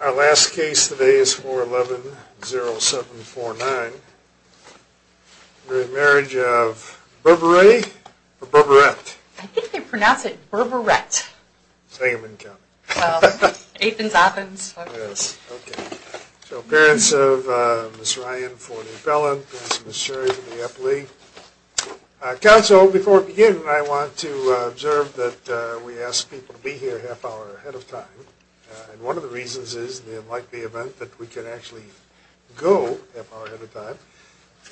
Our last case today is 411-0749. We're in marriage of Berberet or Berberet? I think they pronounce it Berberet. Sangamon County. Well, Athens, Athens. Yes, okay. So parents of Ms. Ryan for the appellant, parents of Ms. Sherry for the appellee. Counsel, before we begin, I want to observe that we ask people to be here a half hour ahead of time. And one of the reasons is in the unlikely event that we can actually go a half hour ahead of time.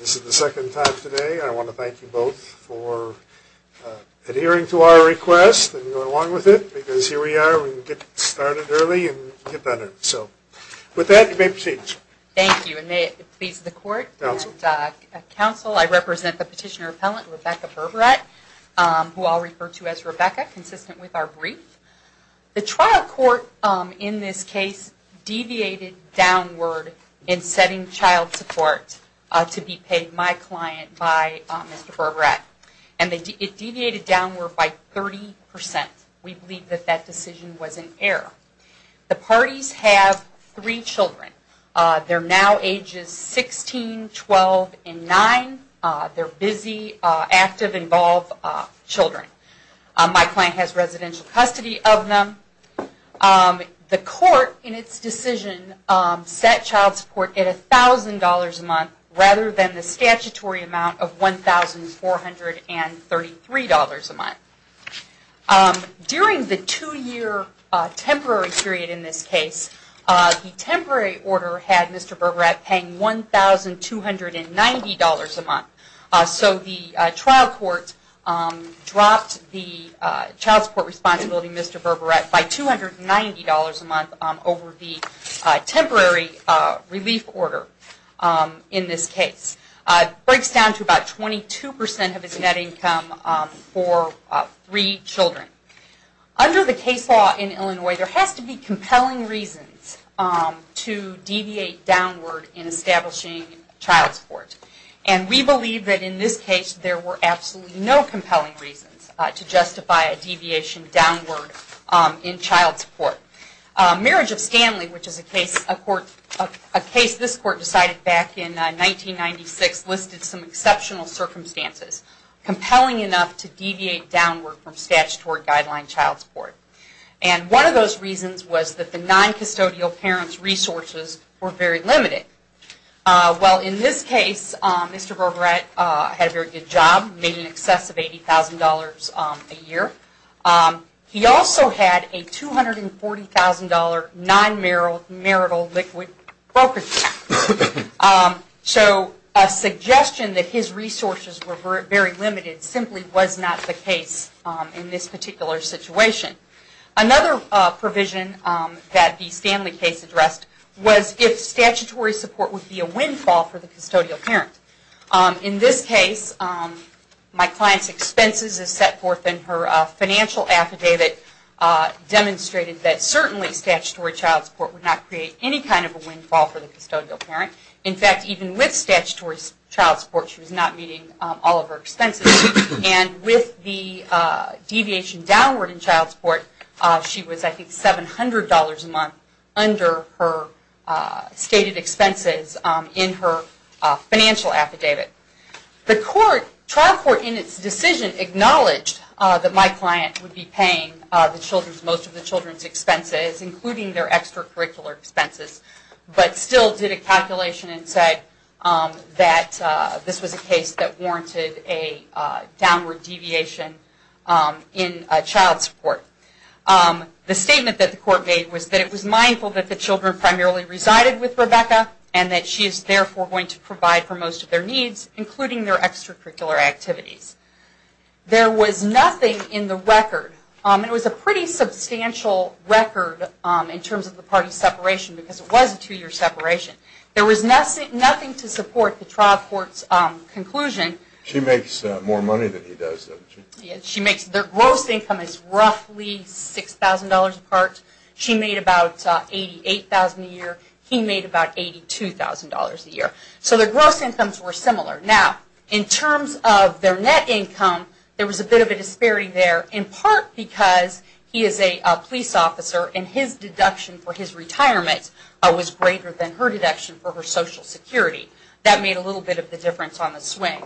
This is the second time today. I want to thank you both for adhering to our request and going along with it. Because here we are, we can get started early and get better. So with that, you may proceed. Thank you. And may it please the court. Counsel. I represent the petitioner appellant, Rebecca Berberet, who I'll refer to as Rebecca, consistent with our brief. The trial court in this case deviated downward in setting child support to be paid my client by Mr. Berberet. And it deviated downward by 30%. We believe that that decision was an error. The parties have three children. They're now ages 16, 12, and 9. They're busy, active, involved children. My client has residential custody of them. The court in its decision set child support at $1,000 a month rather than the statutory amount of $1,433 a month. During the two-year temporary period in this case, the temporary order had Mr. Berberet paying $1,290 a month. So the trial court dropped the child support responsibility to Mr. Berberet by $290 a month over the temporary relief order in this case. It breaks down to about 22% of his net income for three children. Under the case law in Illinois, there has to be compelling reasons to deviate downward in establishing child support. And we believe that in this case, there were absolutely no compelling reasons to justify a deviation downward in child support. Marriage of Stanley, which is a case this court decided back in 1996, listed some exceptional circumstances compelling enough to deviate downward from statutory guideline child support. And one of those reasons was that the non-custodial parent's resources were very limited. Well, in this case, Mr. Berberet had a very good job, made in excess of $80,000 a year. He also had a $240,000 non-marital liquid brokerage. So a suggestion that his resources were very limited simply was not the case in this particular situation. Another provision that the Stanley case addressed was if statutory support would be a windfall for the custodial parent. In this case, my client's expenses as set forth in her financial affidavit demonstrated that certainly statutory child support would not create any kind of a windfall for the custodial parent. In fact, even with statutory child support, she was not meeting all of her expenses. And with the deviation downward in child support, she was, I think, $700 a month under her stated expenses in her financial affidavit. The trial court in its decision acknowledged that my client would be paying most of the children's expenses, including their extracurricular expenses, but still did a calculation and said that this was a case that warranted a downward deviation in child support. The statement that the court made was that it was mindful that the children primarily resided with Rebecca, and that she is therefore going to provide for most of their needs, including their extracurricular activities. There was nothing in the record. It was a pretty substantial record in terms of the parties' separation, because it was a two-year separation. There was nothing to support the trial court's conclusion. She makes more money than he does, doesn't she? Their gross income is roughly $6,000 apart. She made about $88,000 a year. He made about $82,000 a year. So their gross incomes were similar. Now, in terms of their net income, there was a bit of a disparity there, in part because he is a police officer, and his deduction for his retirement was greater than her deduction for her Social Security. That made a little bit of a difference on the swing.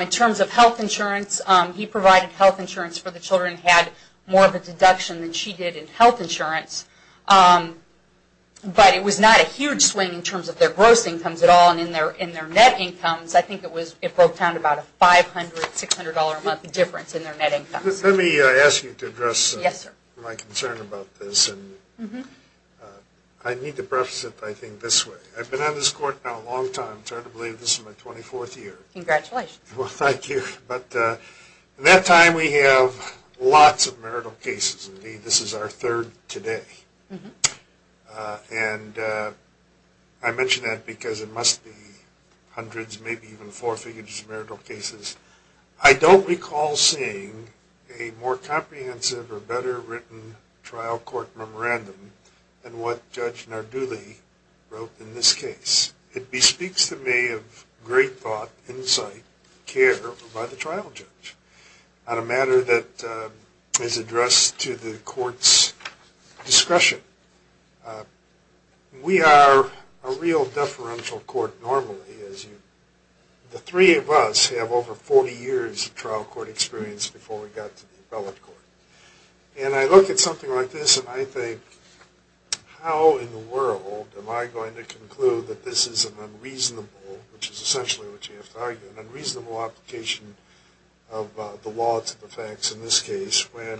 In terms of health insurance, he provided health insurance for the children, and had more of a deduction than she did in health insurance. But it was not a huge swing in terms of their gross incomes at all, and in their net incomes. I think it broke down to about a $500, $600 a month difference in their net incomes. Let me ask you to address my concern about this. I need to preface it, I think, this way. I've been on this court now a long time. It's hard to believe this is my 24th year. Congratulations. Well, thank you. In that time, we have lots of marital cases. This is our third today. And I mention that because it must be hundreds, maybe even four figures of marital cases. I don't recall seeing a more comprehensive or better written trial court memorandum than what Judge Narduli wrote in this case. It bespeaks to me of great thought, insight, care by the trial judge. On a matter that is addressed to the court's discretion, we are a real deferential court normally. The three of us have over 40 years of trial court experience before we got to the appellate court. And I look at something like this and I think, how in the world am I going to conclude that this is an unreasonable, which is essentially what you have to argue, an unreasonable application of the law to the facts in this case when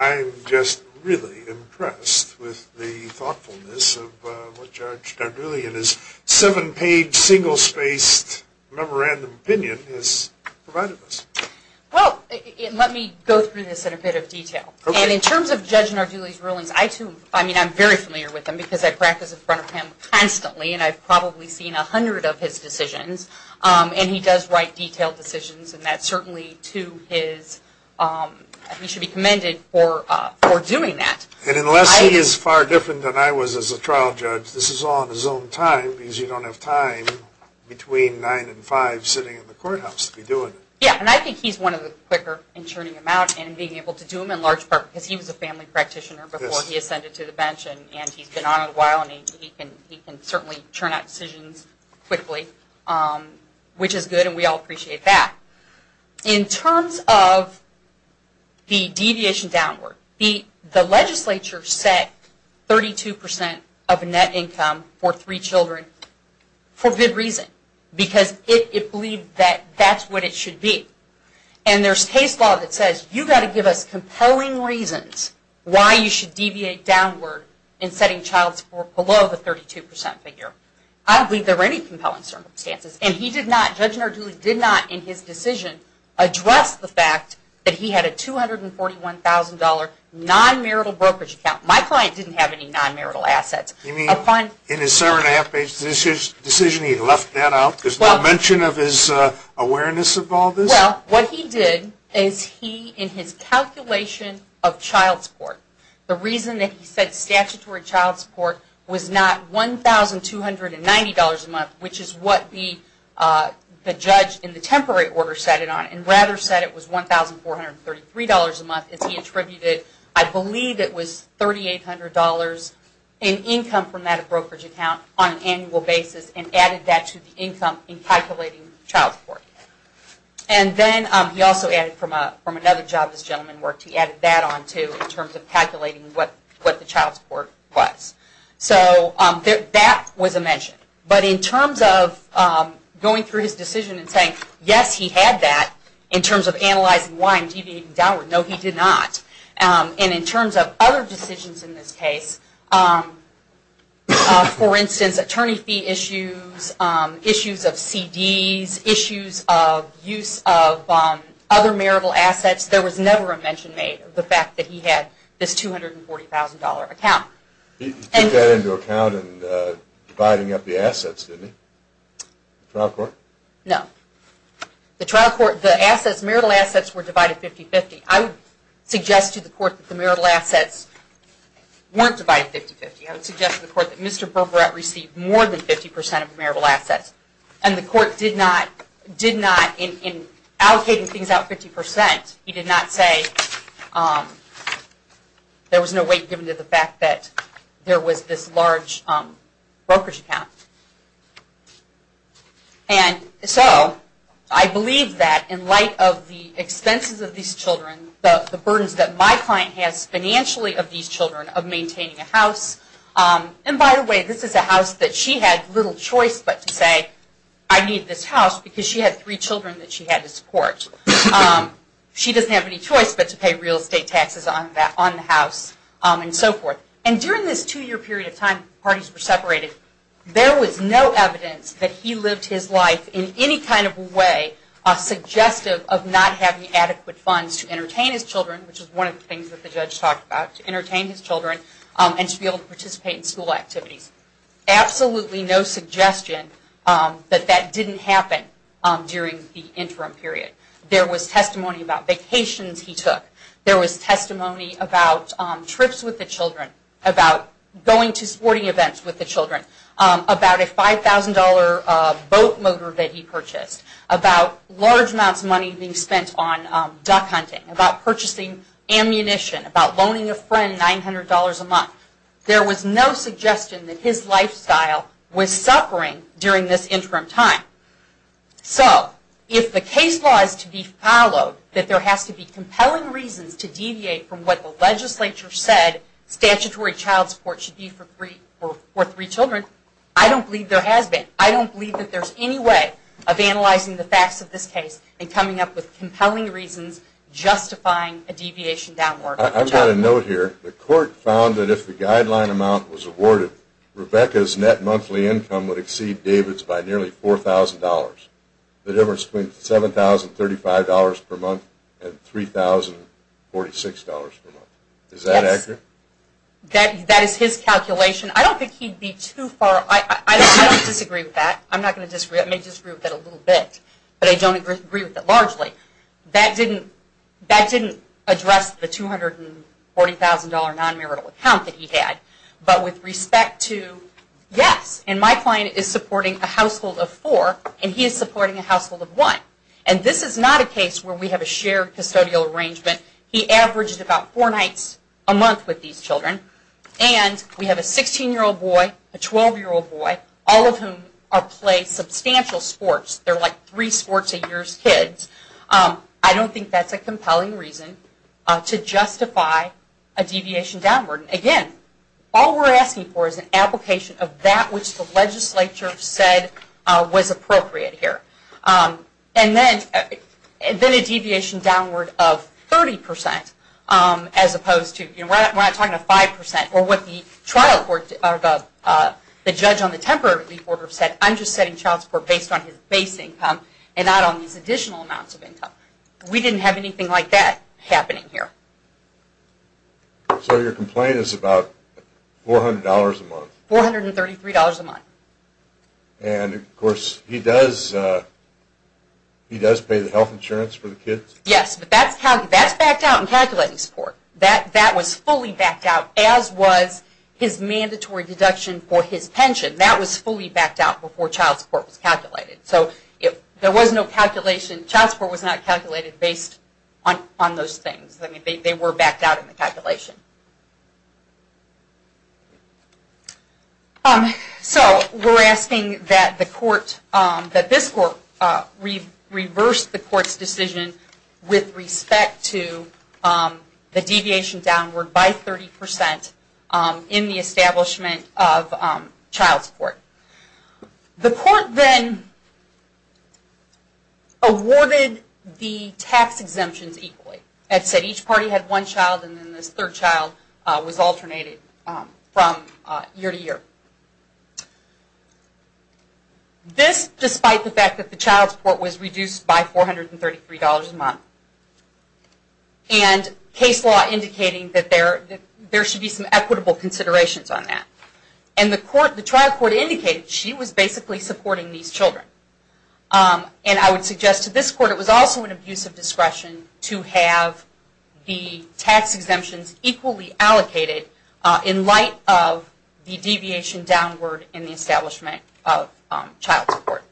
I'm just really impressed with the thoughtfulness of what Judge Narduli in his seven-page, single-spaced memorandum opinion has provided us? Well, let me go through this in a bit of detail. And in terms of Judge Narduli's rulings, I'm very familiar with them because I practice in front of him constantly. And I've probably seen a hundred of his decisions. And he does write detailed decisions. And that's certainly to his, he should be commended for doing that. And unless he is far different than I was as a trial judge, this is all in his own time because you don't have time between 9 and 5 sitting in the courthouse to be doing it. Yeah, and I think he's one of the quicker in churning them out and being able to do them in large part because he was a family practitioner before he ascended to the bench. And he's been on a while. And he can certainly churn out decisions quickly, which is good. And we all appreciate that. In terms of the deviation downward, the legislature set 32 percent of net income for three children for good reason because it believed that that's what it should be. And there's case law that says you've got to give us compelling reasons why you should deviate downward in setting child support below the 32 percent figure. I don't believe there were any compelling circumstances. And he did not, Judge Narduli did not in his decision address the fact that he had a $241,000 non-marital brokerage account. My client didn't have any non-marital assets. You mean in his seven and a half page decision he left that out? There's no mention of his awareness of all this? Well, what he did is he, in his calculation of child support, the reason that he said statutory child support was not $1,290 a month, which is what the judge in the temporary order set it on, and rather said it was $1,433 a month, is he attributed I believe it was $3,800 in income from that brokerage account on an annual basis and added that to the income in calculating child support. And then he also added from another job this gentleman worked, he added that on too in terms of calculating what the child support was. So that was a mention. But in terms of going through his decision and saying yes, he had that, in terms of analyzing why I'm deviating downward, no he did not. And in terms of other decisions in this case, for instance, attorney fee issues, issues of CDs, issues of use of other marital assets, there was never a mention made of the fact that he had this $240,000 account. He took that into account in dividing up the assets, didn't he? The trial court? No. The trial court, the assets, marital assets were divided 50-50. I would suggest to the court that the marital assets weren't divided 50-50. I would suggest to the court that Mr. Berberette received more than 50% of marital assets. And the court did not, in allocating things out 50%, he did not say there was no weight given to the fact that there was this large brokerage account. And so I believe that in light of the expenses of these children, the burdens that my client has financially of these children, of maintaining a house. And by the way, this is a house that she had little choice but to say, I need this house because she had three children that she had to support. She doesn't have any choice but to pay real estate taxes on the house and so forth. And during this two-year period of time, parties were separated, there was no evidence that he lived his life in any kind of way suggestive of not having adequate funds to entertain his children, which is one of the things that the judge talked about, to entertain his children and to be able to participate in school activities. Absolutely no suggestion that that didn't happen during the interim period. There was testimony about vacations he took. There was testimony about trips with the children, about going to sporting events with the children, about a $5,000 boat motor that he purchased, about large amounts of money being spent on duck hunting, about purchasing ammunition, about loaning a friend $900 a month. There was no suggestion that his lifestyle was suffering during this interim time. So if the case law is to be followed, that there has to be compelling reasons to deviate from what the legislature said, statutory child support should be for three children, I don't believe there has been. I don't believe that there's any way of analyzing the facts of this case and coming up with compelling reasons justifying a deviation downward. I've got a note here. The court found that if the guideline amount was awarded, Rebecca's net monthly income would exceed David's by nearly $4,000. The difference between $7,035 per month and $3,046 per month. Is that accurate? That is his calculation. I don't think he'd be too far. I don't disagree with that. I'm not going to disagree. I may disagree with that a little bit, but I don't agree with it largely. That didn't address the $240,000 non-marital account that he had. But with respect to, yes, and my client is supporting a household of four, and he is supporting a household of one. And this is not a case where we have a shared custodial arrangement. He averaged about four nights a month with these children. And we have a 16-year-old boy, a 12-year-old boy, all of whom play substantial sports. They're like three sports a year's kids. I don't think that's a compelling reason to justify a deviation downward. Again, all we're asking for is an application of that which the legislature said was appropriate here. And then a deviation downward of 30% as opposed to, you know, we're not talking about 5% or what the trial court, the judge on the temporary relief order said, I'm just setting child support based on his base income and not on these additional amounts of income. We didn't have anything like that happening here. So your complaint is about $400 a month? $433 a month. And, of course, he does pay the health insurance for the kids? Yes, but that's backed out in calculating support. That was fully backed out, as was his mandatory deduction for his pension. That was fully backed out before child support was calculated. So there was no calculation. Child support was not calculated based on those things. They were backed out in the calculation. So we're asking that the court, that this court reverse the court's decision with respect to the deviation downward by 30% in the establishment of child support. The court then awarded the tax exemptions equally. It said each party had one child, and then this third child was alternated from year to year. This, despite the fact that the child support was reduced by $433 a month, and case law indicating that there should be some equitable considerations on that. And the trial court indicated she was basically supporting these children. And I would suggest to this court it was also an abuse of discretion to have the tax exemptions equally allocated in light of the deviation downward in the establishment of child support.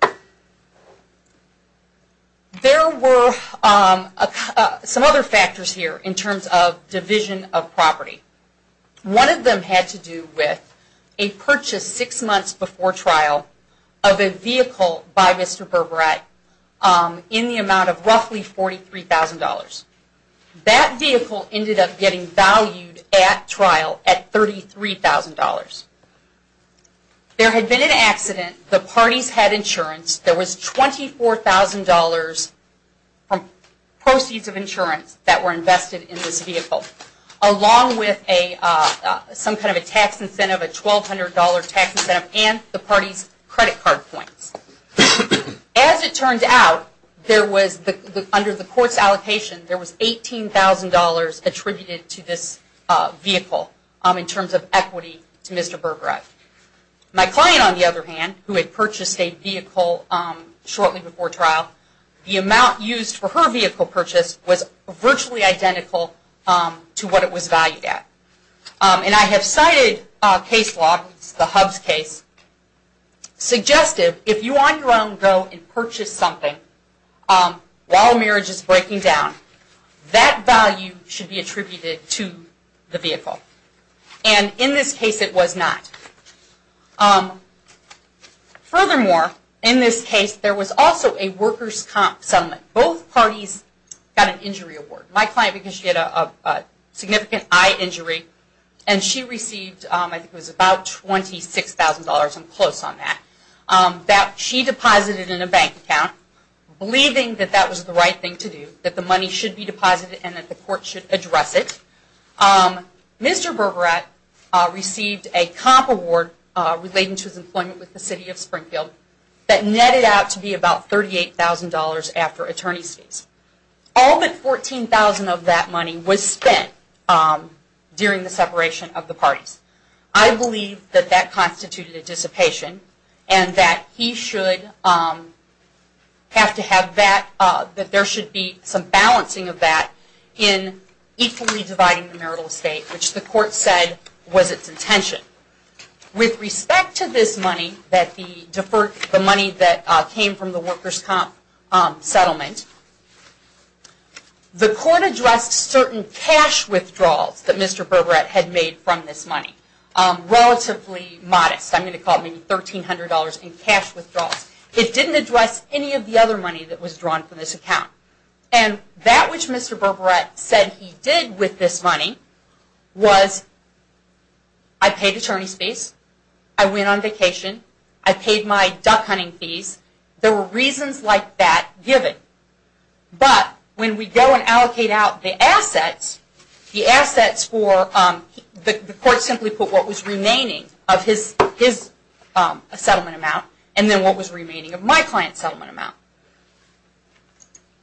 There were some other factors here in terms of division of property. One of them had to do with a purchase six months before trial of a vehicle by Mr. That vehicle ended up getting valued at trial at $33,000. There had been an accident. The parties had insurance. There was $24,000 from proceeds of insurance that were invested in this vehicle, along with some kind of a tax incentive, a $1,200 tax incentive, and the party's credit card points. As it turned out, under the court's allocation, there was $18,000 attributed to this vehicle in terms of equity to Mr. Berberat. My client, on the other hand, who had purchased a vehicle shortly before trial, the amount used for her vehicle purchase was virtually identical to what it was valued at. I have cited case law, the Hubs case, suggestive if you on your own go and purchase something while a marriage is breaking down, that value should be attributed to the vehicle. In this case, it was not. Furthermore, in this case, there was also a worker's comp settlement. Both parties got an injury award. My client, because she had a significant eye injury, and she received, I think it was about $26,000, I'm close on that, that she deposited in a bank account, believing that that was the right thing to do, that the money should be deposited and that the court should address it. Mr. Berberat received a comp award relating to his employment with the city of Springfield that netted out to be about $38,000 after attorney's fees. All but $14,000 of that money was spent during the separation of the parties. I believe that that constituted a dissipation and that there should be some balancing of that in equally dividing the marital estate, which the court said was its intention. With respect to this money, the money that came from the worker's comp settlement, the court addressed certain cash withdrawals that Mr. Berberat had made from this money. Relatively modest, I'm going to call it maybe $1,300 in cash withdrawals. It didn't address any of the other money that was drawn from this account. That which Mr. Berberat said he did with this money was, I paid attorney's fees, I went on vacation, I paid my duck hunting fees. There were reasons like that given. But when we go and allocate out the assets, the assets for, the court simply put what was remaining of his settlement amount and then what was remaining of my client's settlement amount.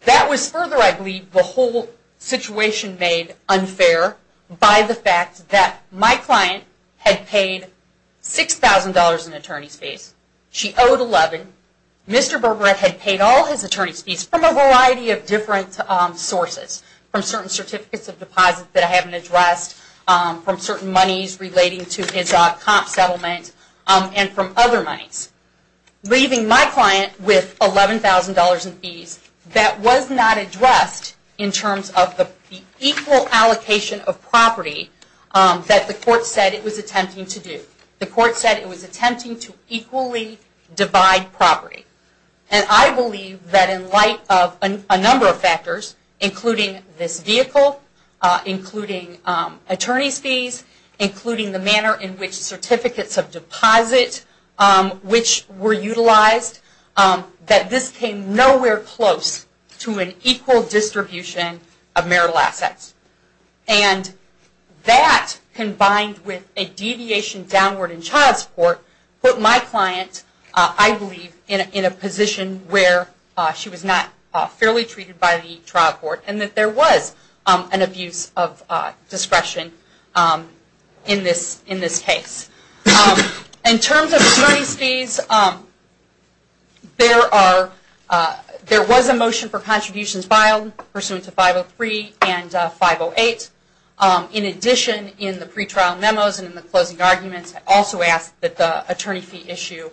That was further, I believe, the whole situation made unfair by the fact that my client had paid $6,000 in attorney's fees. She owed $11,000. Mr. Berberat had paid all his attorney's fees from a variety of different sources, from certain certificates of deposits that I haven't addressed, from certain monies relating to his comp settlement, and from other monies. Leaving my client with $11,000 in fees, that was not addressed in terms of the equal allocation of property that the court said it was attempting to do. The court said it was attempting to equally divide property. including this vehicle, including attorney's fees, including the manner in which certificates of deposit, which were utilized, that this came nowhere close to an equal distribution of marital assets. And that combined with a deviation downward in child support put my client, I believe, in a position where she was not fairly treated by the trial court and that there was an abuse of discretion in this case. In terms of attorney's fees, there was a motion for contributions filed pursuant to 503 and 508. In addition, in the pre-trial memos and in the closing arguments, I also asked that the attorney fee issue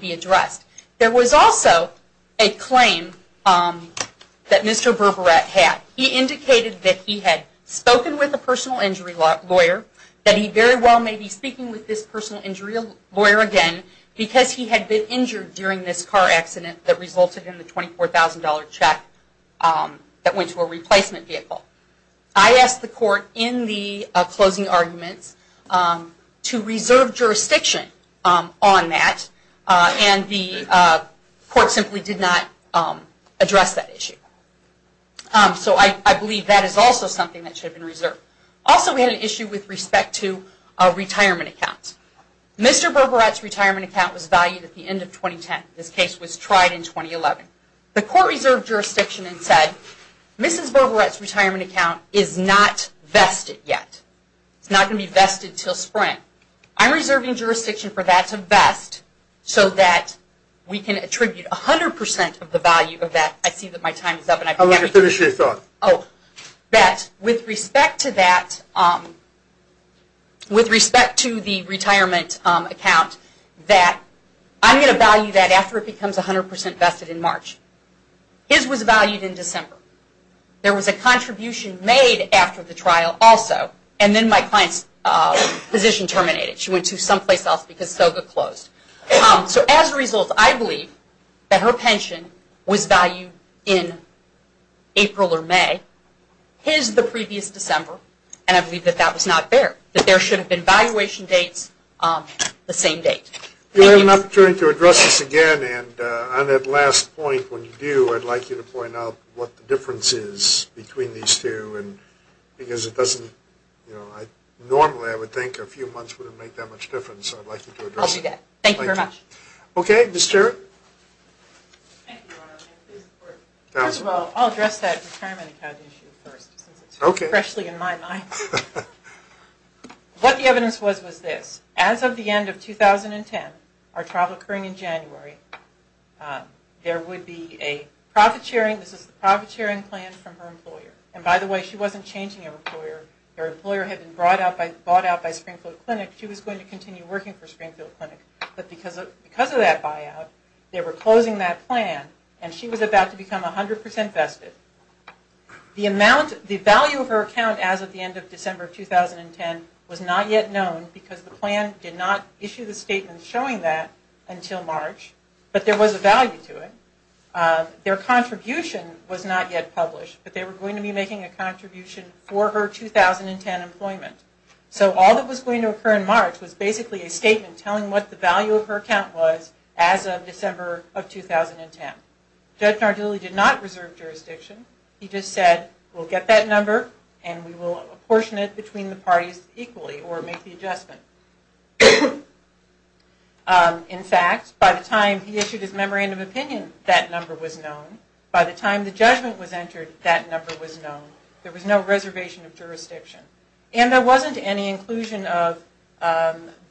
be addressed. There was also a claim that Mr. Berberette had. He indicated that he had spoken with a personal injury lawyer, that he very well may be speaking with this personal injury lawyer again because he had been injured during this car accident that resulted in the $24,000 check that went to a replacement vehicle. I asked the court in the closing arguments to reserve jurisdiction on that and the court simply did not address that issue. So I believe that is also something that should have been reserved. Also, we had an issue with respect to retirement accounts. Mr. Berberette's retirement account was valued at the end of 2010. This case was tried in 2011. The court reserved jurisdiction and said, Mrs. Berberette's retirement account is not vested yet. It's not going to be vested until spring. I'm reserving jurisdiction for that to vest so that we can attribute 100% of the value of that. I see that my time is up. With respect to the retirement account, I'm going to value that after it becomes 100% vested in March. His was valued in December. There was a contribution made after the trial also, and then my client's position terminated. She went to someplace else because SOGA closed. As a result, I believe that her pension was valued in April or May. His, the previous December, and I believe that that was not fair, that there should have been valuation dates the same date. We have an opportunity to address this again, and on that last point, when you do, I'd like you to point out what the difference is between these two because it doesn't, normally I would think a few months wouldn't make that much difference. I'd like you to address it. I'll do that. Thank you very much. Okay. Ms. Jarrett. Thank you. First of all, I'll address that retirement account issue first since it's freshly in my mind. What the evidence was was this. As of the end of 2010, our trial occurring in January, there would be a profit sharing, this is the profit sharing plan from her employer. And by the way, she wasn't changing her employer. Her employer had been brought out by Springfield Clinic. She was going to continue working for Springfield Clinic. But because of that buyout, they were closing that plan, and she was about to become 100% vested. The amount, the value of her account as of the end of December 2010 was not yet known because the plan did not issue the statement showing that until March, but there was a value to it. Their contribution was not yet published, but they were going to be making a contribution for her 2010 employment. So all that was going to occur in March was basically a statement telling what the value of her account was as of December of 2010. Judge Nardulli did not reserve jurisdiction. He just said, we'll get that number, and we will apportion it between the parties equally, or make the adjustment. In fact, by the time he issued his memorandum of opinion, that number was known. By the time the judgment was entered, that number was known. There was no reservation of jurisdiction. And there wasn't any inclusion of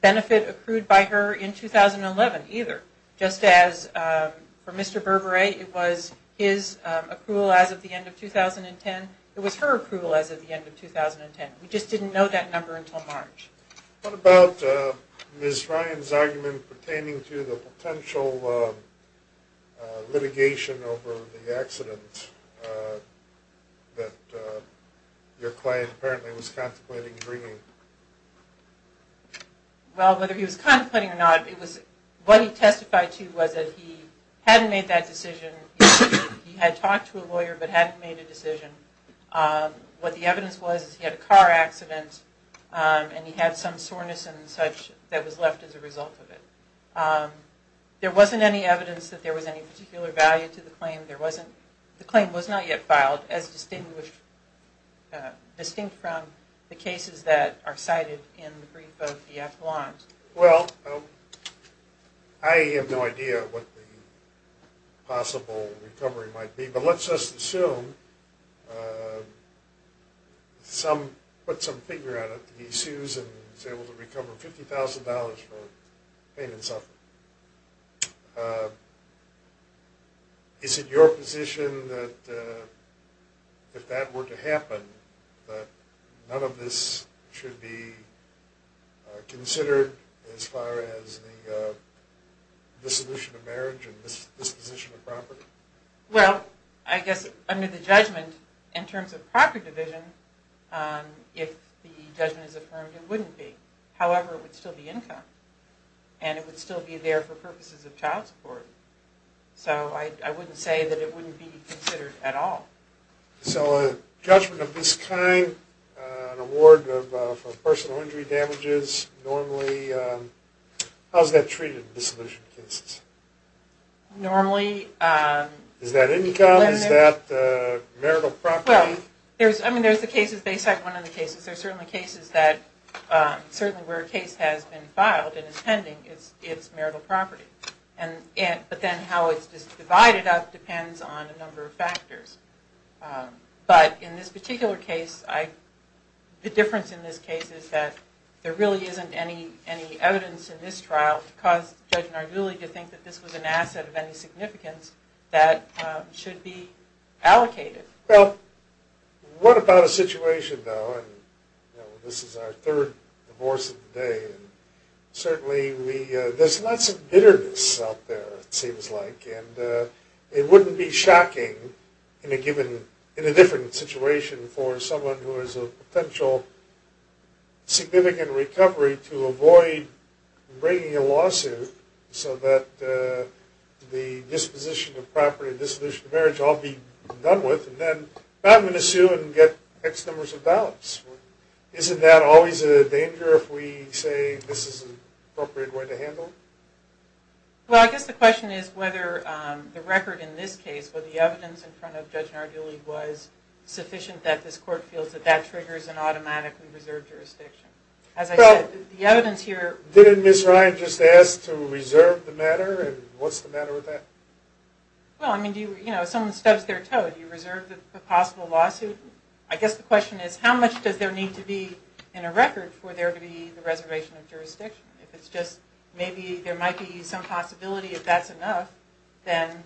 benefit accrued by her in 2011 either. Just as for Mr. Burberry, it was his accrual as of the end of 2010, it was her accrual as of the end of 2010. We just didn't know that number until March. What about Ms. Ryan's argument pertaining to the potential litigation over the accident that your client apparently was contemplating bringing? Well, whether he was contemplating or not, what he testified to was that he hadn't made that decision. He had talked to a lawyer but hadn't made a decision. What the evidence was is he had a car accident, and he had some soreness and such that was left as a result of it. There wasn't any evidence that there was any particular value to the claim. The claim was not yet filed, as distinct from the cases that are cited in the brief of the affidavit. Well, I have no idea what the possible recovery might be, but let's just assume, put some figure on it, he sues and is able to recover $50,000 for pain and suffering. Is it your position that if that were to happen, that none of this should be considered as far as the dissolution of marriage and disposition of property? Well, I guess under the judgment in terms of property division, if the judgment is affirmed, it wouldn't be. However, it would still be income, and it would still be there for purposes of child support. So I wouldn't say that it wouldn't be considered at all. So a judgment of this kind, an award for personal injury damages, normally, how is that treated in dissolution cases? Normally... Is that income? Is that marital property? Well, I mean, there's the cases, they cite one of the cases. There are certainly cases that, certainly where a case has been filed and is pending, it's marital property. But then how it's divided up depends on a number of factors. But in this particular case, the difference in this case is that there really isn't any evidence in this trial to cause Judge Narduli to think that this was an asset of any significance that should be allocated. Well, what about a situation, though, and this is our third divorce of the day, and certainly there's lots of bitterness out there, it seems like, and it wouldn't be shocking in a different situation for someone who has a potential significant recovery to avoid bringing a lawsuit so that the disposition of property and dissolution of marriage all be done with, and then not going to sue and get X numbers of ballots. Isn't that always a danger if we say this is an appropriate way to handle it? Well, I guess the question is whether the record in this case, whether the evidence in front of Judge Narduli was sufficient that this court feels that that triggers an automatically reserved jurisdiction. As I said, the evidence here... Well, didn't Ms. Ryan just ask to reserve the matter, and what's the matter with that? Well, I mean, you know, if someone stubs their toe, do you reserve the possible lawsuit? I guess the question is how much does there need to be in a record for there to be the reservation of jurisdiction? If it's just maybe there might be some possibility if that's enough, then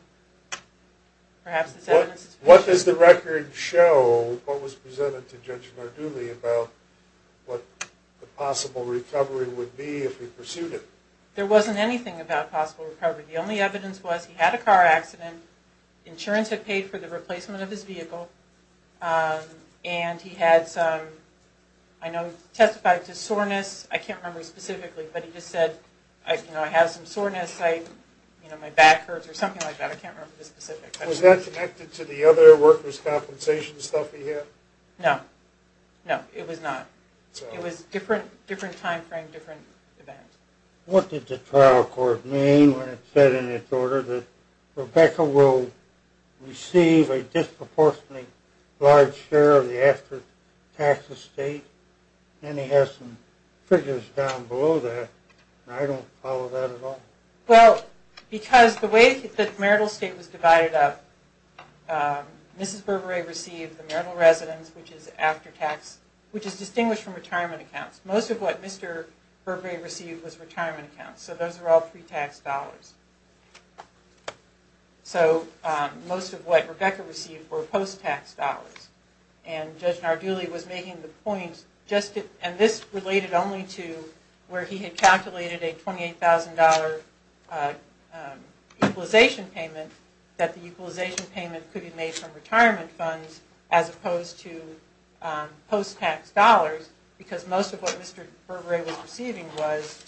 perhaps this evidence is sufficient. What does the record show, what was presented to Judge Narduli, about what the possible recovery would be if he pursued it? There wasn't anything about possible recovery. The only evidence was he had a car accident, insurance had paid for the replacement of his vehicle, and he had some... I know he testified to soreness. I can't remember specifically, but he just said, you know, I have some soreness, my back hurts, or something like that. I can't remember the specifics. Was that connected to the other workers' compensation stuff he had? No. No, it was not. It was a different time frame, different event. What did the trial court mean when it said in its order that Rebecca will receive a disproportionately large share of the after-tax estate? And he has some figures down below that, and I don't follow that at all. Well, because the way the marital estate was divided up, Mrs. Burberry received the marital residence, which is after-tax, which is distinguished from retirement accounts. Most of what Mr. Burberry received was retirement accounts, so those are all pre-tax dollars. So most of what Rebecca received were post-tax dollars, and Judge Nardulli was making the point, and this related only to where he had calculated a $28,000 equalization payment, that the equalization payment could be made from retirement funds as opposed to post-tax dollars, because most of what Mr. Burberry was receiving was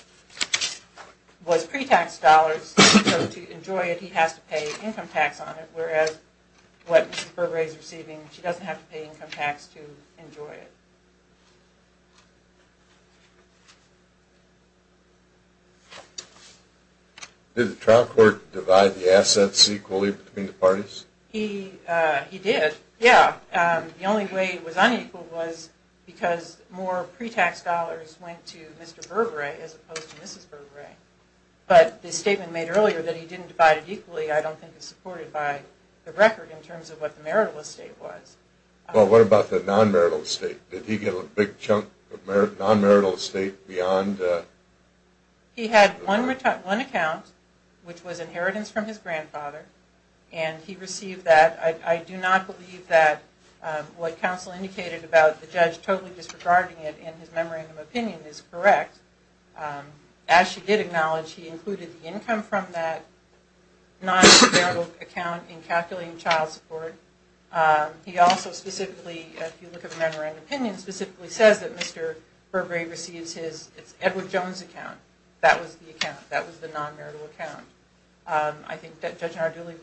pre-tax dollars, so to enjoy it he has to pay income tax on it, whereas what Mrs. Burberry is receiving, she doesn't have to pay income tax to enjoy it. Did the trial court divide the assets equally between the parties? He did, yeah. The only way it was unequal was because more pre-tax dollars went to Mr. Burberry as opposed to Mrs. Burberry, but the statement made earlier that he didn't divide it equally, I don't think is supported by the record in terms of what the marital estate was. Well, what about the non-marital estate? Did he get a big chunk of non-marital estate beyond? He had one account, which was inheritance from his grandfather, and he received that. I do not believe that what counsel indicated about the judge totally disregarding it in his memorandum opinion is correct. As she did acknowledge, he included the income from that non-marital account in calculating child support. He also specifically, if you look at the memorandum opinion, specifically says that Mr. Burberry receives his Edward Jones account. That was the account. That was the non-marital account. I think that Judge Narduli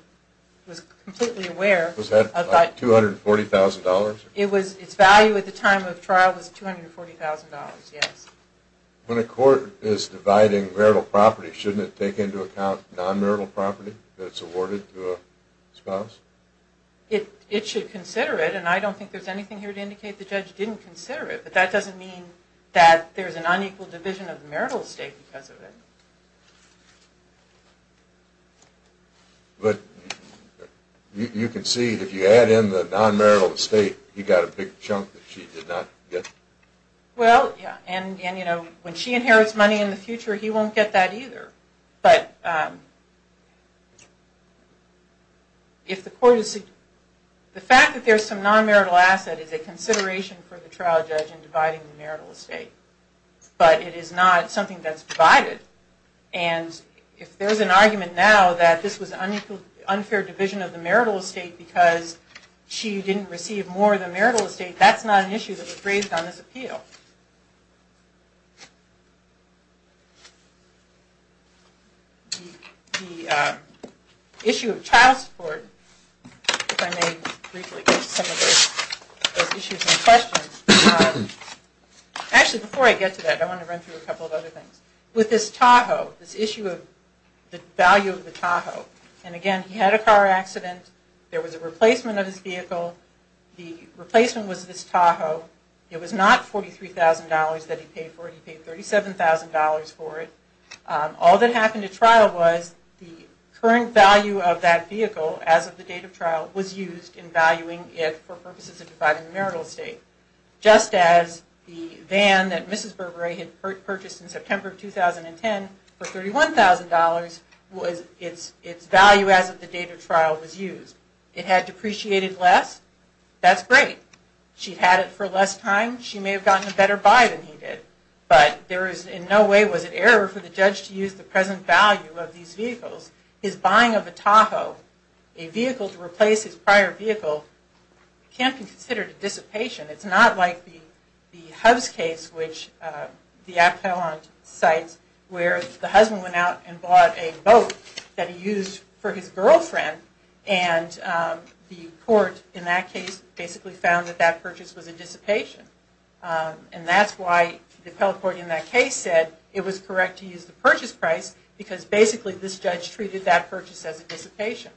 was completely aware of that. Was that $240,000? Its value at the time of trial was $240,000, yes. When a court is dividing marital property, shouldn't it take into account non-marital property that's awarded to a spouse? It should consider it, and I don't think there's anything here to indicate the judge didn't consider it. But that doesn't mean that there's an unequal division of the marital estate because of it. But you can see, if you add in the non-marital estate, he got a big chunk that she did not get. Well, yeah, and when she inherits money in the future, he won't get that either. But if the court is... The fact that there's some non-marital asset is a consideration for the trial judge in dividing the marital estate. But it is not something that's divided. And if there's an argument now that this was an unfair division of the marital estate because she didn't receive more of the marital estate, that's not an issue that was raised on this appeal. The issue of child support, if I may briefly address some of those issues and questions. Actually, before I get to that, I want to run through a couple of other things. With this Tahoe, this issue of the value of the Tahoe, and again, he had a car accident. There was a replacement of his vehicle. The replacement was this Tahoe. It was not $43,000 that he paid for it. He paid $37,000 for it. All that happened at trial was the current value of that vehicle, as of the date of trial, was used in valuing it for purposes of dividing the marital estate. Just as the van that Mrs. Burberry had purchased in September of 2010 for $31,000, its value as of the date of trial was used. It had depreciated less. That's great. She had it for less time. She may have gotten a better buy than he did, but in no way was it error for the judge to use the present value of these vehicles. His buying of a Tahoe, a vehicle to replace his prior vehicle, can't be considered a dissipation. It's not like the Hubs case, which the appellant cites, where the husband went out and bought a boat that he used for his girlfriend and the court in that case basically found that that purchase was a dissipation. That's why the appellate court in that case said it was correct to use the purchase price because basically this judge treated that purchase as a dissipation.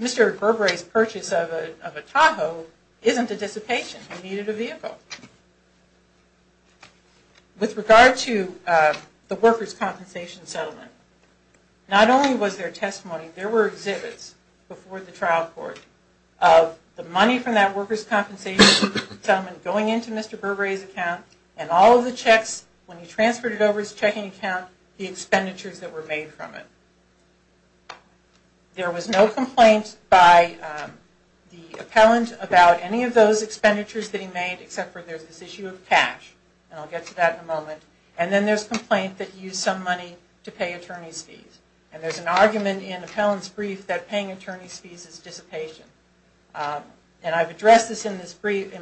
Mr. Burberry's purchase of a Tahoe isn't a dissipation. He needed a vehicle. With regard to the workers' compensation settlement, not only was there testimony, there were exhibits before the trial court of the money from that workers' compensation settlement going into Mr. Burberry's account, and all of the checks when he transferred it over his checking account, the expenditures that were made from it. There was no complaint by the appellant about any of those expenditures that he made except for there's this issue of cash, and I'll get to that in a moment, and then there's complaint that he used some money to pay attorney's fees. And there's an argument in appellant's brief that paying attorney's fees is dissipation. And I've addressed this in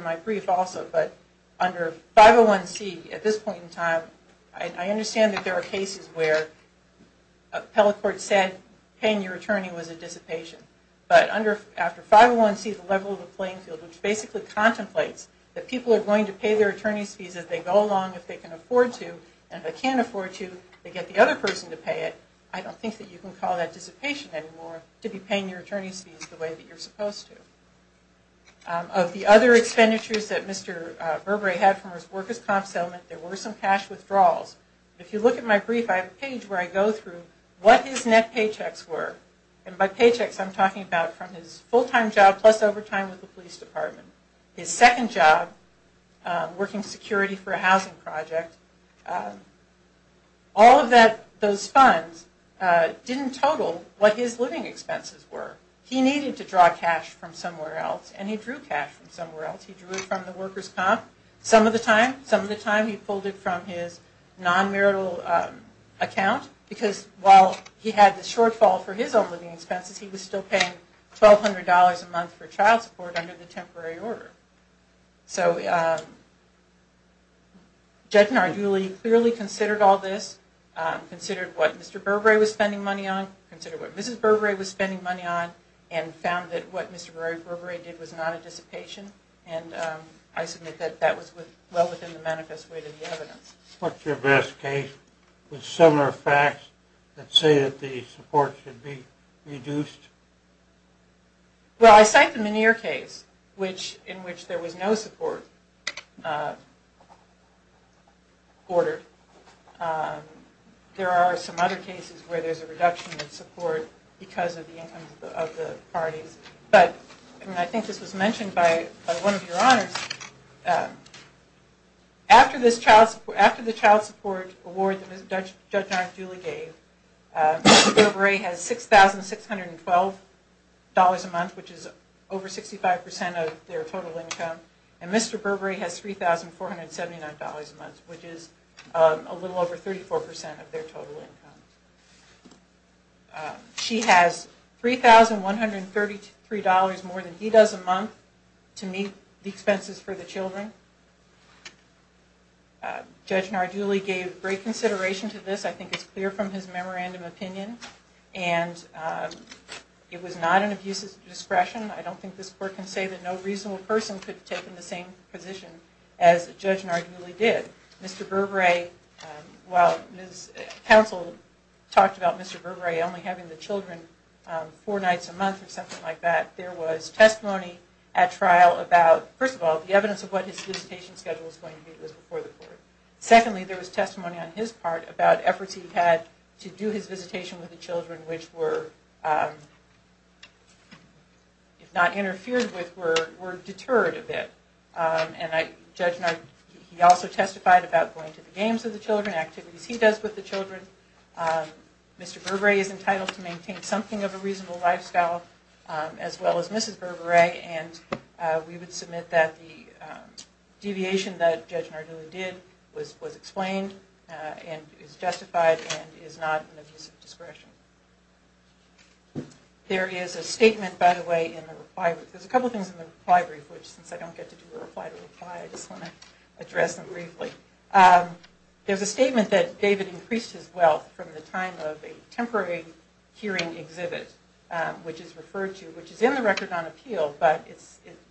my brief also, but under 501C at this point in time, I understand that there are cases where appellate court said paying your attorney was a dissipation, but after 501C, the level of the playing field, which basically contemplates that people are going to pay their attorney's fees if they go along, if they can afford to, and if they can't afford to, they get the other person to pay it. I don't think that you can call that dissipation anymore, to be paying your attorney's fees the way that you're supposed to. Of the other expenditures that Mr. Burberry had from his workers' comp settlement, there were some cash withdrawals. If you look at my brief, I have a page where I go through what his net paychecks were. And by paychecks, I'm talking about from his full-time job plus overtime with the police department. His second job, working security for a housing project. All of those funds didn't total what his living expenses were. He needed to draw cash from somewhere else, and he drew cash from somewhere else. He drew it from the workers' comp. Some of the time, he pulled it from his non-marital account, because while he had the shortfall for his own living expenses, he was still paying $1,200 a month for child support under the temporary order. So, Judge Narduli clearly considered all this, considered what Mr. Burberry was spending money on, considered what Mrs. Burberry was spending money on, and found that what Mr. Burberry did was not a dissipation. And I submit that that was well within the manifest way to the evidence. What's your best case with similar facts that say that the support should be reduced? Well, I cite the Meneer case, in which there was no support ordered. There are some other cases where there's a reduction in support because of the income of the parties. But I think this was mentioned by one of your honors. After the child support award that Judge Narduli gave, Mr. Burberry has $6,612 a month, which is over 65% of their total income, and Mr. Burberry has $3,479 a month, which is a little over 34% of their total income. She has $3,133 more than he does a month to meet the expenses for the children. Judge Narduli gave great consideration to this. I think it's clear from his memorandum opinion, and it was not an abuse of discretion. I don't think this court can say that no reasonable person could have taken the same position as Judge Narduli did. While counsel talked about Mr. Burberry only having the children four nights a month or something like that, there was testimony at trial about, first of all, the evidence of what his solicitation schedule was going to be before the court. Secondly, there was testimony on his part about efforts he had to do his visitation with the children, which were, if not interfered with, were deterred a bit. And Judge Narduli also testified about going to the games with the children, activities he does with the children. Mr. Burberry is entitled to maintain something of a reasonable lifestyle, as well as Mrs. Burberry, and we would submit that the deviation that Judge Narduli did was explained and is justified and is not an abuse of discretion. There is a statement, by the way, in the reply brief. There's a couple of things in the reply brief, which, since I don't get to do a reply to reply, I just want to address them briefly. There's a statement that David increased his wealth from the time of a temporary hearing exhibit, which is in the record on appeal, but it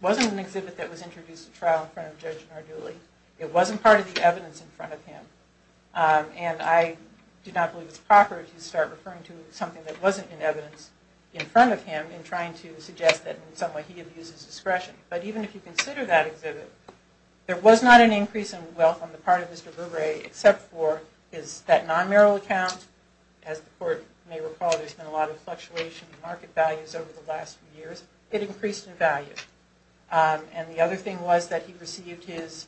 wasn't an exhibit that was introduced at trial in front of Judge Narduli. It wasn't part of the evidence in front of him. And I do not believe it's proper to start referring to something that wasn't in evidence in front of him in trying to suggest that in some way he abuses discretion. But even if you consider that exhibit, there was not an increase in wealth on the part of Mr. Burberry, except for that non-marital account. As the Court may recall, there's been a lot of fluctuation in market values over the last few years. It increased in value. And the other thing was that he received his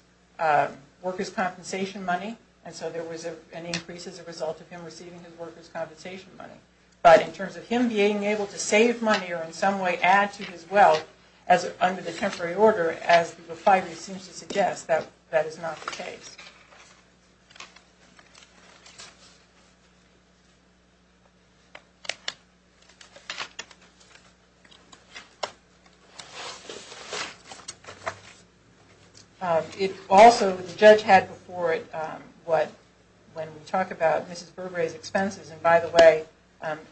workers' compensation money, and so there was an increase as a result of him receiving his workers' compensation money. But in terms of him being able to save money or in some way add to his wealth under the temporary order, as the refinery seems to suggest, that is not the case. Also, the judge had before it what, when we talk about Mrs. Burberry's expenses, and by the way,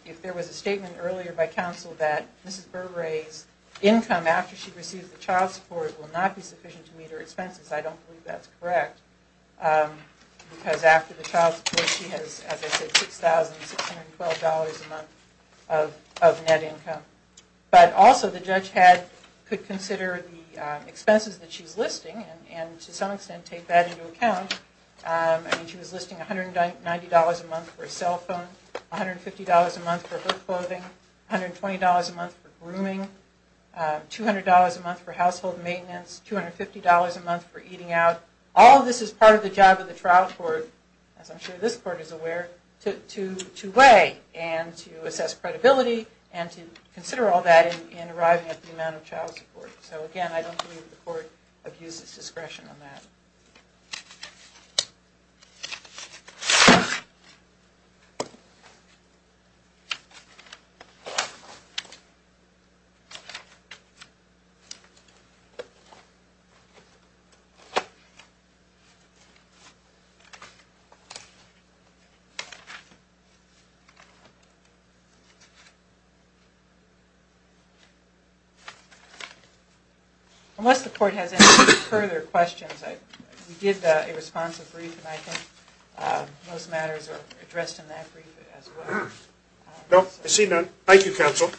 if there was a statement earlier by counsel that Mrs. Burberry's income after she receives the child support will not be sufficient to meet her expenses, I don't believe that's correct. Because after the child support, she has, as I said, $6,612 a month of net income. But also, the judge could consider the expenses that she's listing, and to some extent take that into account. I mean, she was listing $190 a month for a cell phone, $150 a month for hook clothing, $120 a month for grooming, $200 a month for household maintenance, $250 a month for eating out. All of this is part of the job of the trial court, as I'm sure this court is aware, to weigh and to assess credibility and to consider all that in arriving at the amount of child support. So again, I don't believe the court abuses discretion on that. Thank you. Unless the court has any further questions, we did a responsive brief, and I think most matters are addressed in that brief as well. No? I see none. Thank you, counsel.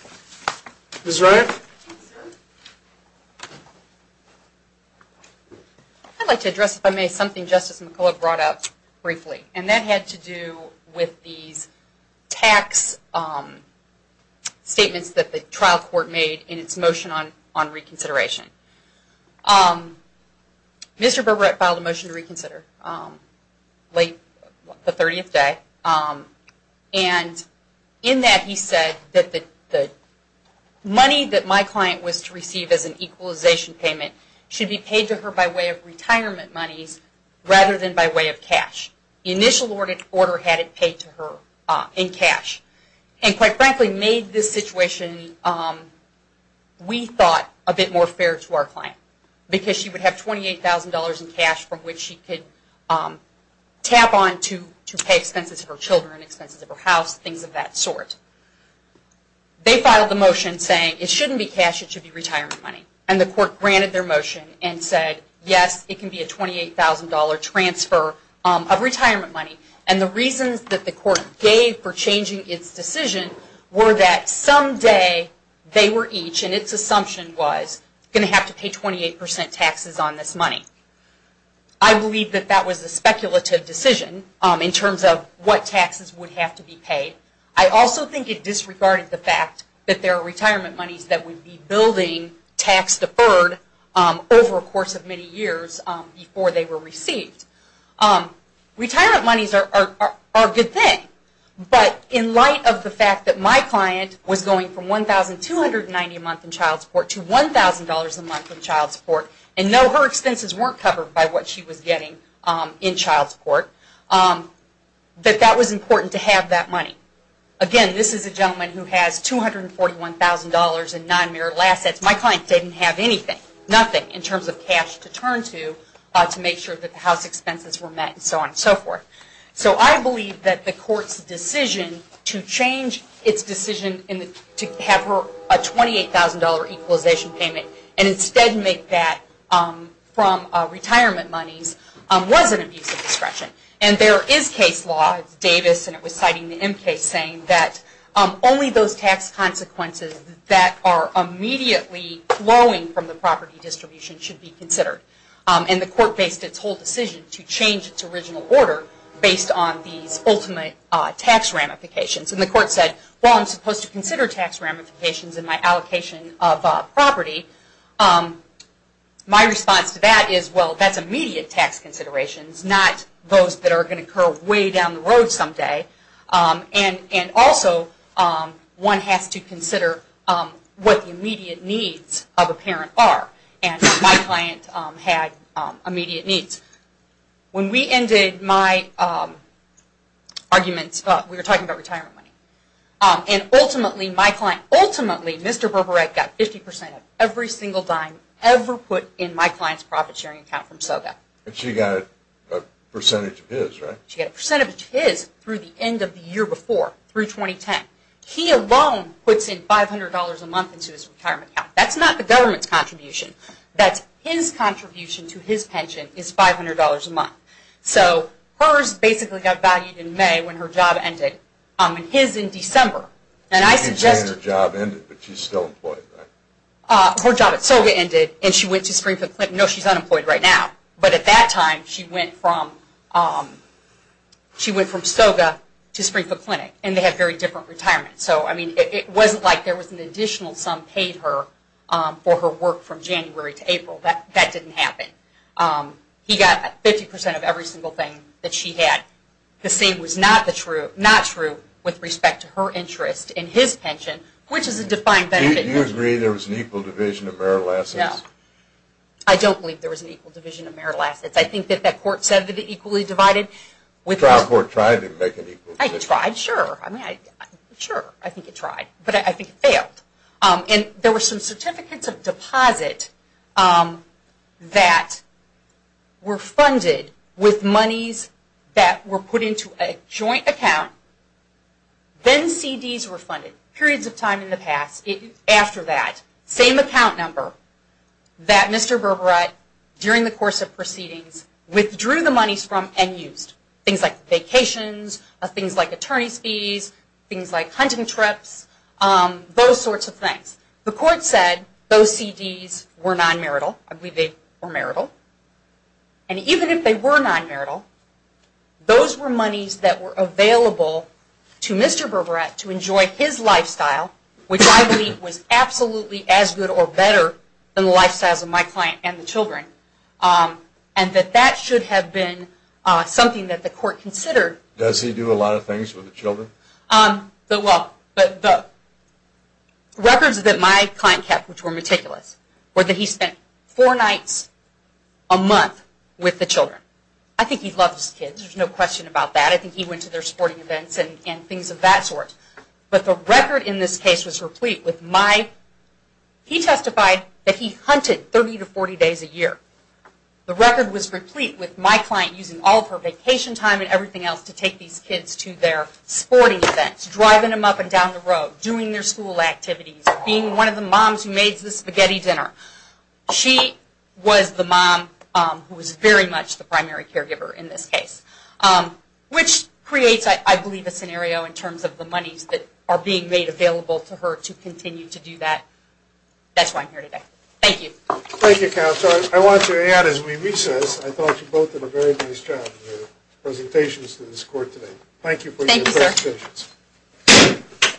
Ms. Ryan? I'd like to address, if I may, something Justice McCullough brought up briefly, and that had to do with these tax statements that the trial court made in its motion on reconsideration. Mr. Berberet filed a motion to reconsider late the 30th day, and in that he said that the money that my client was to receive as an equalization payment should be paid to her by way of retirement monies rather than by way of cash. The initial order had it paid to her in cash, and quite frankly, they made this situation, we thought, a bit more fair to our client, because she would have $28,000 in cash from which she could tap on to pay expenses for children, expenses of her house, things of that sort. They filed a motion saying it shouldn't be cash, it should be retirement money, and the court granted their motion and said, yes, it can be a $28,000 transfer of retirement money, and the reasons that the court gave for changing its decision were that someday they were each, and its assumption was, going to have to pay 28% taxes on this money. I believe that that was a speculative decision in terms of what taxes would have to be paid. I also think it disregarded the fact that there are retirement monies that would be building tax-deferred over a course of many years before they were received. Retirement monies are a good thing, but in light of the fact that my client was going from $1,290 a month in child support to $1,000 a month in child support, and no, her expenses weren't covered by what she was getting in child support, that that was important to have that money. Again, this is a gentleman who has $241,000 in non-marital assets. My client didn't have anything, nothing in terms of cash to turn to, to make sure that the house expenses were met and so on and so forth. So I believe that the court's decision to change its decision to have her a $28,000 equalization payment and instead make that from retirement monies was an abuse of discretion. And there is case law, Davis, and it was citing the M case, and it's saying that only those tax consequences that are immediately flowing from the property distribution should be considered. And the court based its whole decision to change its original order based on these ultimate tax ramifications. And the court said, well, I'm supposed to consider tax ramifications in my allocation of property. My response to that is, well, that's immediate tax considerations, not those that are going to occur way down the road someday. And also, one has to consider what the immediate needs of a parent are. And my client had immediate needs. When we ended my arguments, we were talking about retirement money. And ultimately, my client, ultimately, Mr. Berberet got 50% of every single dime ever put in my client's profit-sharing account from SOGA. And she got a percentage of his, right? She got a percentage of his through the end of the year before, through 2010. He alone puts in $500 a month into his retirement account. That's not the government's contribution. That's his contribution to his pension is $500 a month. So hers basically got valued in May when her job ended, and his in December. And I suggest... She retained her job and ended, but she's still employed, right? Her job at SOGA ended, and she went to Springfield. No, she's unemployed right now. But at that time, she went from SOGA to Springfield Clinic, and they had very different retirements. So, I mean, it wasn't like there was an additional sum paid her for her work from January to April. That didn't happen. He got 50% of every single thing that she had. The same was not true with respect to her interest in his pension, which is a defined benefit. Do you agree there was an equal division of marital assets? No. I don't believe there was an equal division of marital assets. I think that that court said that it equally divided. That court tried to make an equal division. It tried, sure. I mean, sure, I think it tried, but I think it failed. And there were some certificates of deposit that were funded with monies that were put into a joint account. Then CDs were funded. Periods of time in the past, after that, same account number that Mr. Berberette, during the course of proceedings, withdrew the monies from and used. Things like vacations, things like attorney's fees, things like hunting trips, those sorts of things. The court said those CDs were non-marital. I believe they were marital. And even if they were non-marital, those were monies that were available to Mr. Berberette to enjoy his lifestyle, which I believe was absolutely as good or better than the lifestyles of my client and the children, and that that should have been something that the court considered. Does he do a lot of things with the children? Well, the records that my client kept, which were meticulous, were that he spent four nights a month with the children. I think he loved his kids. There's no question about that. I think he went to their sporting events and things of that sort. But the record in this case was replete with my, he testified that he hunted 30 to 40 days a year. The record was replete with my client using all of her vacation time and everything else to take these kids to their sporting events, driving them up and down the road, doing their school activities, being one of the moms who made the spaghetti dinner. She was the mom who was very much the primary caregiver in this case, which creates, I believe, a scenario in terms of the monies that are being made available to her to continue to do that. That's why I'm here today. Thank you. Thank you, Counselor. I want to add as we recess, I thought you both did a very nice job in your presentations to this court today. Thank you for your presentations. Thank you, sir.